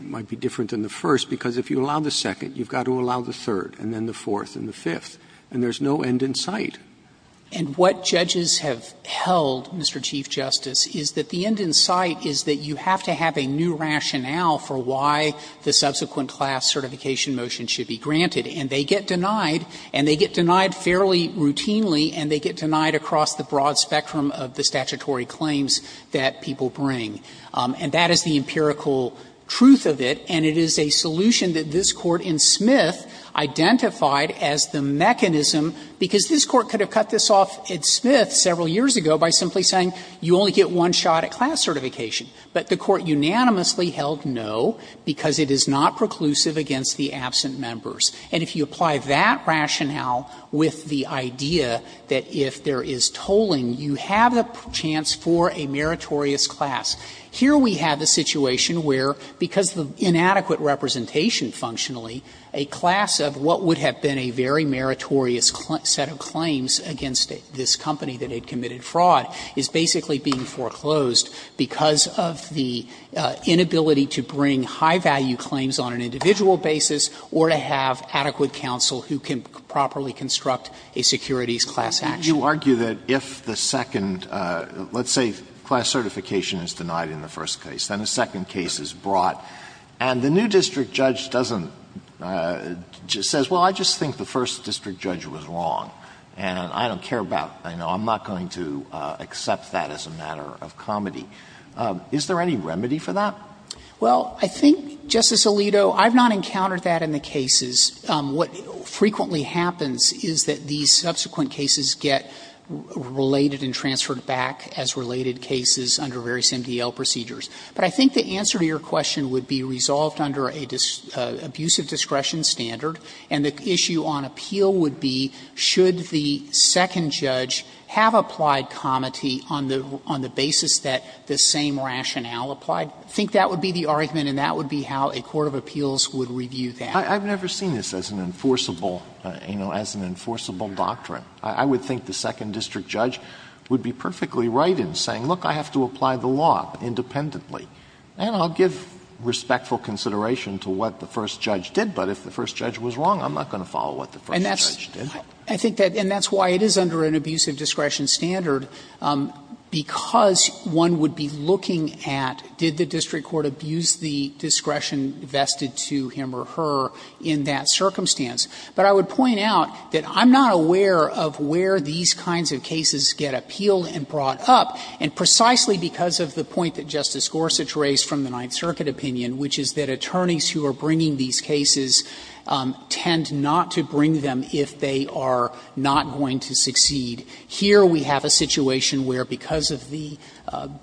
might be different than the first, because if you allow the second, you've got to allow the third, and then the fourth, and the fifth, and there's no end in sight. And what judges have held, Mr. Chief Justice, is that the end in sight is that you have to have a new rationale for why the subsequent class certification motion should be granted. And they get denied, and they get denied fairly routinely, and they get denied across the broad spectrum of the statutory claims that people bring. And that is the empirical truth of it, and it is a solution that this Court in Smith identified as the mechanism, because this Court could have cut this off in Smith several years ago by simply saying, you only get one shot at class certification. But the Court unanimously held no, because it is not preclusive against the absent members. And if you apply that rationale with the idea that if there is tolling, you have a chance for a meritorious class. Here we have a situation where, because of inadequate representation functionally, a class of what would have been a very meritorious set of claims against this company that had committed fraud is basically being foreclosed because of the inability to bring high-value claims on an individual basis or to have adequate counsel who can properly construct a securities class action. Alito, you argue that if the second, let's say class certification is denied in the first case, then a second case is brought. And the new district judge doesn't say, well, I just think the first district judge was wrong, and I don't care about, I know I'm not going to accept that as a matter of comedy. Is there any remedy for that? Well, I think, Justice Alito, I've not encountered that in the cases. What frequently happens is that these subsequent cases get related and transferred back as related cases under various MDL procedures. But I think the answer to your question would be resolved under an abusive discretion standard, and the issue on appeal would be should the second judge have applied comedy on the basis that the same rationale applied? I think that would be the argument, and that would be how a court of appeals would review that. I've never seen this as an enforceable, you know, as an enforceable doctrine. I would think the second district judge would be perfectly right in saying, look, I have to apply the law independently, and I'll give respectful consideration to what the first judge did, but if the first judge was wrong, I'm not going to follow what the first judge did. I think that, and that's why it is under an abusive discretion standard, because one would be looking at did the district court abuse the discretion vested to him or her in that circumstance. But I would point out that I'm not aware of where these kinds of cases get appealed and brought up, and precisely because of the point that Justice Gorsuch raised from the Ninth Circuit opinion, which is that attorneys who are bringing these cases tend not to bring them if they are not going to succeed. Here we have a situation where because of the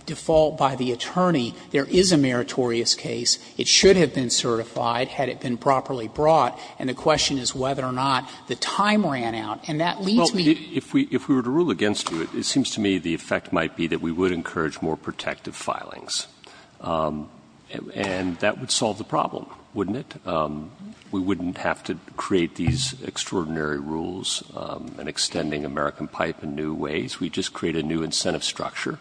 default by the attorney, there is a meritorious case, it should have been certified had it been properly brought, and the question is whether or not the time ran out. And that leads me to the point that if we were to rule against you, it seems to me the effect might be that we would encourage more protective filings, and that would solve the problem, wouldn't it? We wouldn't have to create these extraordinary rules in extending American Pipe in new ways. We'd just create a new incentive structure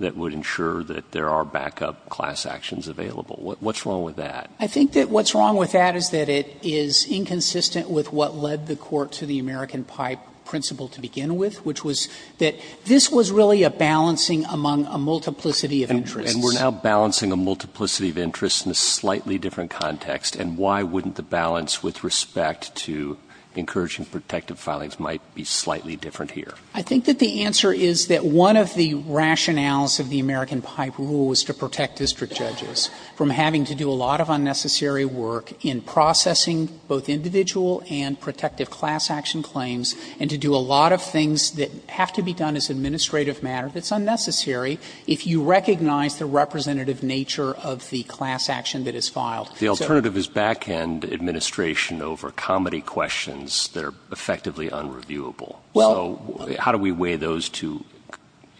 that would ensure that there are backup class actions available. What's wrong with that? I think that what's wrong with that is that it is inconsistent with what led the Court to the American Pipe principle to begin with, which was that this was really a balancing among a multiplicity of interests. And we're now balancing a multiplicity of interests in a slightly different context, and why wouldn't the balance with respect to encouraging protective filings might be slightly different here? I think that the answer is that one of the rationales of the American Pipe rule was to protect district judges from having to do a lot of unnecessary work in processing both individual and protective class action claims, and to do a lot of things that have to be done as administrative matter that's unnecessary if you recognize the representative nature of the class action that is filed. So the alternative is backhand administration over comedy questions that are effectively unreviewable. Well, how do we weigh those two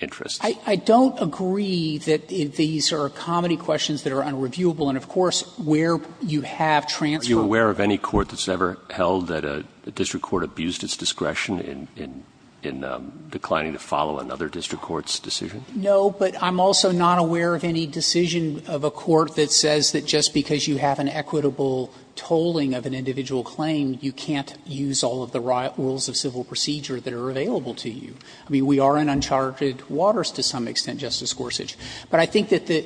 interests? I don't agree that these are comedy questions that are unreviewable, and of course, where you have transferable. Are you aware of any court that's ever held that a district court abused its discretion in declining to follow another district court's decision? No, but I'm also not aware of any decision of a court that says that just because you have an equitable tolling of an individual claim, you can't use all of the rules of civil procedure that are available to you. I mean, we are in uncharted waters to some extent, Justice Gorsuch. But I think that the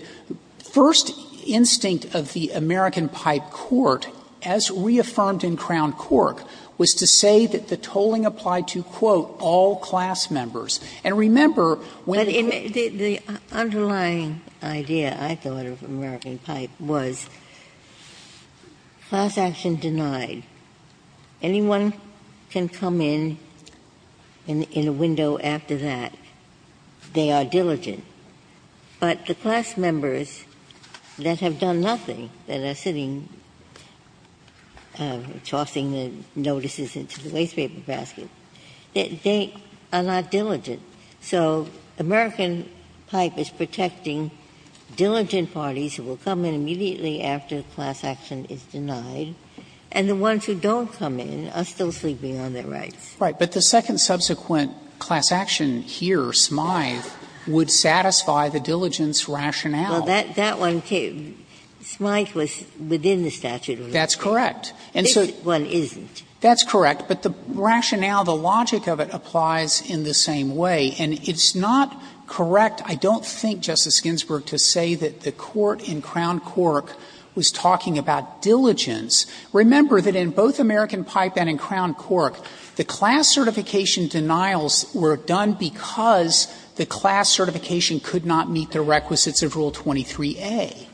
first instinct of the American Pipe court, as reaffirmed in Crown Cork, was to say that the tolling applied to, quote, all class members. And remember, when the court was denied. Ginsburg. The underlying idea, I thought, of American Pipe was class action denied. Anyone can come in in a window after that. They are diligent. But the class members that have done nothing, that are sitting tossing the notices into the waste paper basket, they are not diligent. So American Pipe is protecting diligent parties who will come in immediately after class action is denied, and the ones who don't come in are still sleeping on their rights. Right. But the second subsequent class action here, Smythe, would satisfy the diligence rationale. Well, that one, too, Smythe was within the statute of limitations. That's correct. This one isn't. That's correct. But the rationale, the logic of it applies in the same way. And it's not correct, I don't think, Justice Ginsburg, to say that the court in Crown Cork was talking about diligence. Remember that in both American Pipe and in Crown Cork, the class certification denials were done because the class certification could not meet the requisites of Rule 23a.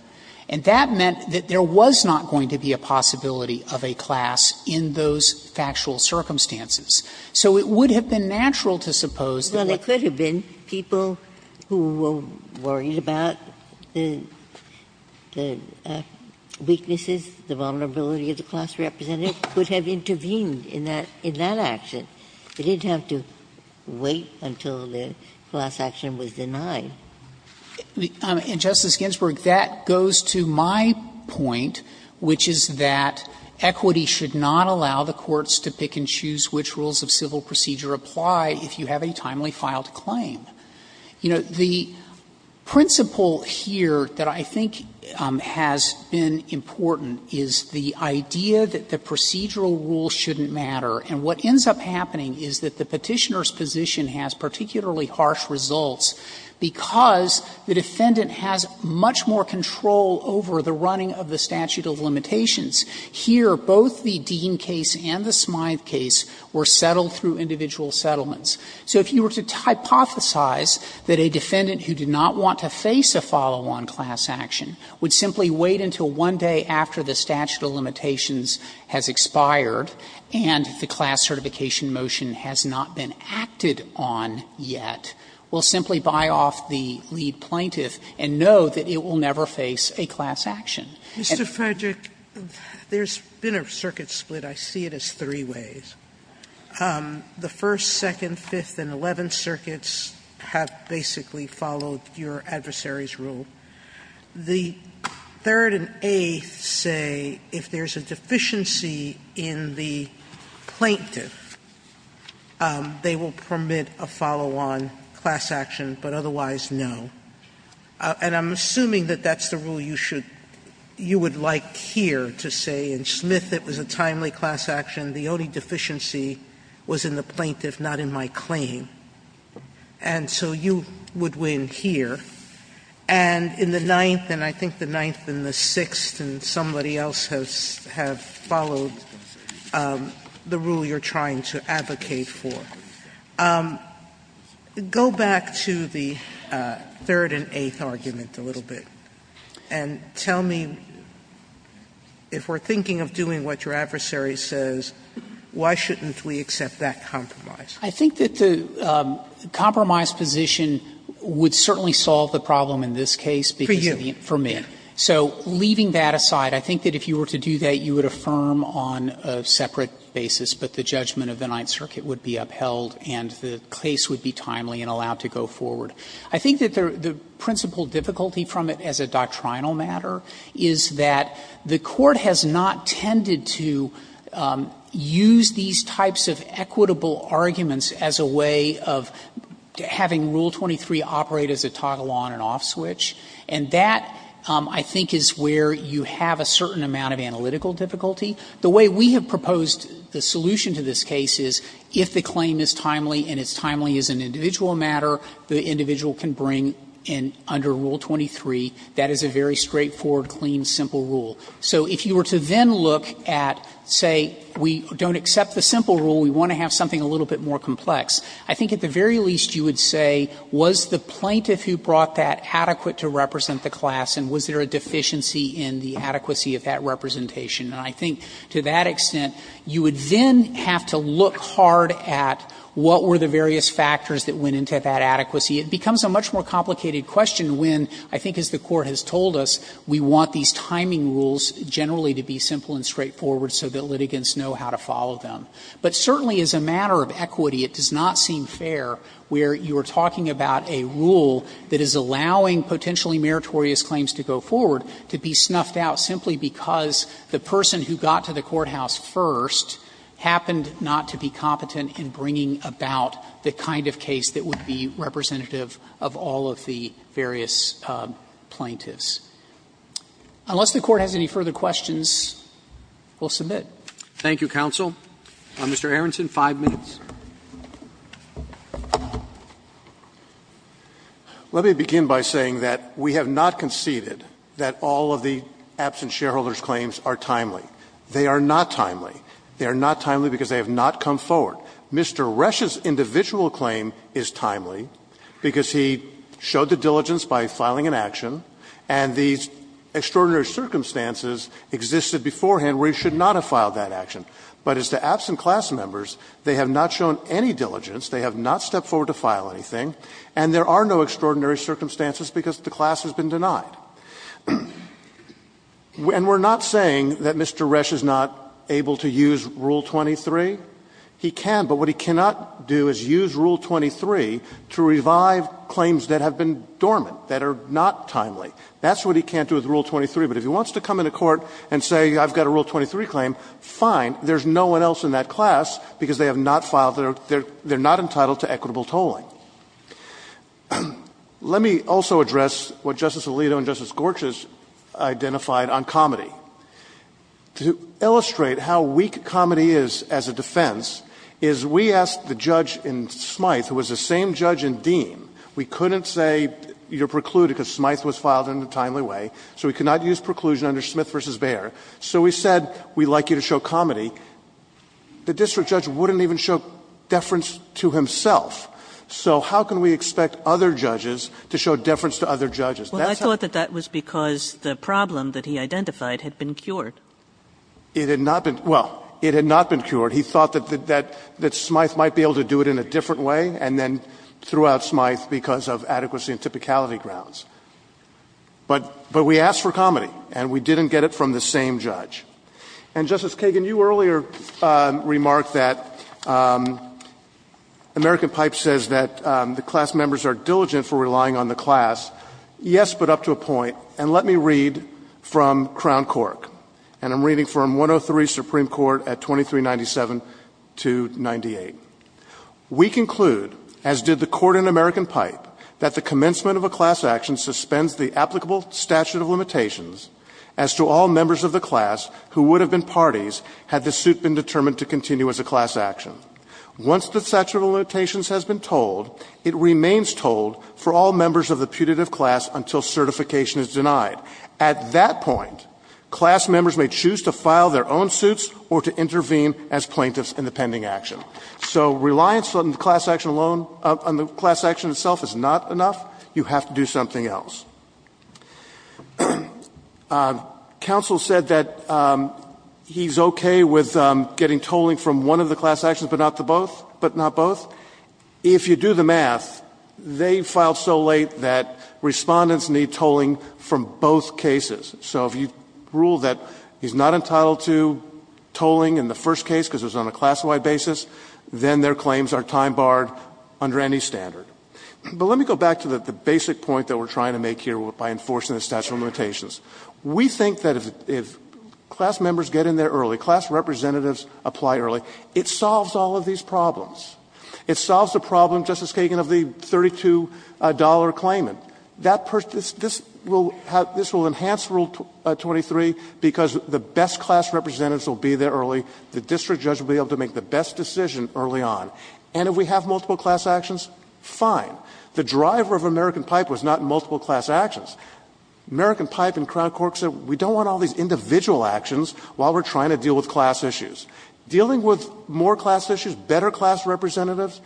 And that meant that there was not going to be a possibility of a class in those factual circumstances. So it would have been natural to suppose that there could have been people who were worried about the weaknesses, the vulnerability of the class representative could have intervened in that action. They didn't have to wait until the class action was denied. And, Justice Ginsburg, that goes to my point, which is that equity should not allow the courts to pick and choose which rules of civil procedure apply if you have a timely filed claim. You know, the principle here that I think has been important is the idea that the procedural rules shouldn't matter. And what ends up happening is that the Petitioner's position has particularly harsh results because the defendant has much more control over the running of the statute of limitations. Here, both the Dean case and the Smythe case were settled through individual settlements. So if you were to hypothesize that a defendant who did not want to face a follow-on class action would simply wait until one day after the statute of limitations has expired and the class certification motion has not been acted on yet, will simply buy off the lead plaintiff and know that it will never face a class action. Sotomayor, Mr. Frederick, there's been a circuit split. I see it as three ways. The first, second, fifth, and eleventh circuits have basically followed your adversary's rule. The third and eighth say if there's a deficiency in the plaintiff, they will permit a follow-on class action, but otherwise no. And I'm assuming that that's the rule you should – you would like here to say in Smythe it was a timely class action, the only deficiency was in the plaintiff, not in my claim. And so you would win here. And in the ninth, and I think the ninth and the sixth, and somebody else has – have followed the rule you're trying to advocate for. Go back to the third and eighth argument a little bit and tell me if we're thinking of doing what your adversary says, why shouldn't we accept that compromise? Frederick, I think that the compromise position would certainly solve the problem in this case because of the information. Sotomayor, for you. Frederick, for me. So leaving that aside, I think that if you were to do that, you would affirm on a separate basis, but the judgment of the Ninth Circuit would be upheld and the case would be timely and allowed to go forward. I think that the principal difficulty from it as a doctrinal matter is that the Court has not tended to use these types of equitable arguments as a way of having Rule 23 operate as a toggle on and off switch, and that, I think, is where you have a certain amount of analytical difficulty. The way we have proposed the solution to this case is if the claim is timely and it's timely as an individual matter, the individual can bring in, under Rule 23, that is a very straightforward, clean, simple rule. So if you were to then look at, say, we don't accept the simple rule, we want to have something a little bit more complex, I think at the very least you would say, was the plaintiff who brought that adequate to represent the class and was there a deficiency in the adequacy of that representation? And I think to that extent, you would then have to look hard at what were the various factors that went into that adequacy. It becomes a much more complicated question when, I think as the Court has told us, we want these timing rules generally to be simple and straightforward so that litigants know how to follow them. But certainly as a matter of equity, it does not seem fair where you are talking about a rule that is allowing potentially meritorious claims to go forward to be snuffed out simply because the person who got to the courthouse first happened not to be competent in bringing about the kind of case that would be representative of all of the various plaintiffs. Unless the Court has any further questions, we will submit. Roberts. Thank you, counsel. Mr. Aronson, five minutes. Aronson. Let me begin by saying that we have not conceded that all of the absent shareholders' claims are timely. They are not timely. They are not timely because they have not come forward. Mr. Resch's individual claim is timely because he showed the diligence by filing an action, and these extraordinary circumstances existed beforehand where he should not have filed that action. But as to absent class members, they have not shown any diligence. They have not stepped forward to file anything. And there are no extraordinary circumstances because the class has been denied. And we are not saying that Mr. Resch is not able to use Rule 23. He can, but what he cannot do is use Rule 23 to revive claims that have been dormant, that are not timely. That's what he can't do with Rule 23. But if he wants to come into court and say I've got a Rule 23 claim, fine. There's no one else in that class because they have not filed their – they are not entitled to equitable tolling. Let me also address what Justice Alito and Justice Gortz has identified on comedy. To illustrate how weak comedy is as a defense is we asked the judge in Smyth, who was the same judge in Dean, we couldn't say you're precluded because Smyth was filed in a timely way, so we cannot use preclusion under Smith v. Bayer, so we said we'd like you to show comedy. The district judge wouldn't even show deference to himself, so how can we expect other judges to show deference to other judges? That's how we do it. Kagan. Well, I thought that that was because the problem that he identified had been cured. It had not been – well, it had not been cured. He thought that Smyth might be able to do it in a different way and then threw out Smyth because of adequacy and typicality grounds. But we asked for comedy, and we didn't get it from the same judge. And, Justice Kagan, you earlier remarked that American Pipe says that the class members are diligent for relying on the class, yes, but up to a point. And let me read from Crown Cork, and I'm reading from 103 Supreme Court at 2397-98. We conclude, as did the Court in American Pipe, that the commencement of a class action suspends the applicable statute of limitations as to all members of the class who would have been parties had the suit been determined to continue as a class action. Once the statute of limitations has been told, it remains told for all members of the putative class until certification is denied. At that point, class members may choose to file their own suits or to intervene as plaintiffs in the pending action. So reliance on the class action alone, on the class action itself, is not enough. You have to do something else. Counsel said that he's okay with getting tolling from one of the class actions but not the both, but not both. If you do the math, they filed so late that respondents need tolling from both cases. So if you rule that he's not entitled to tolling in the first case because it was on a class-wide basis, then their claims are time barred under any standard. But let me go back to the basic point that we're trying to make here by enforcing the statute of limitations. We think that if class members get in there early, class representatives apply early, it solves all of these problems. It solves the problem, Justice Kagan, of the $32 claimant. This will enhance Rule 23 because the best class representatives will be there early. The district judge will be able to make the best decision early on. And if we have multiple class actions, fine. The driver of American Pipe was not multiple class actions. American Pipe and Crown Court said we don't want all these individual actions while we're trying to deal with class issues. Dealing with more class issues, better class representatives,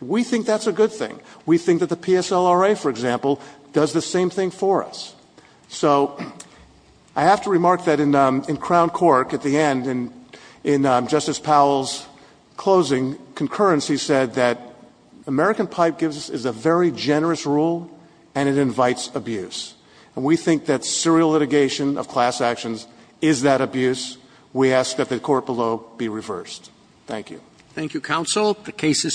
we think that's a good thing. We think that the PSLRA, for example, does the same thing for us. So I have to remark that in Crown Court, at the end, in Justice Powell's closing, concurrency said that American Pipe is a very generous rule and it invites abuse. And we think that serial litigation of class actions is that abuse. We ask that the court below be reversed. Thank you. Thank you, counsel. The case is submitted.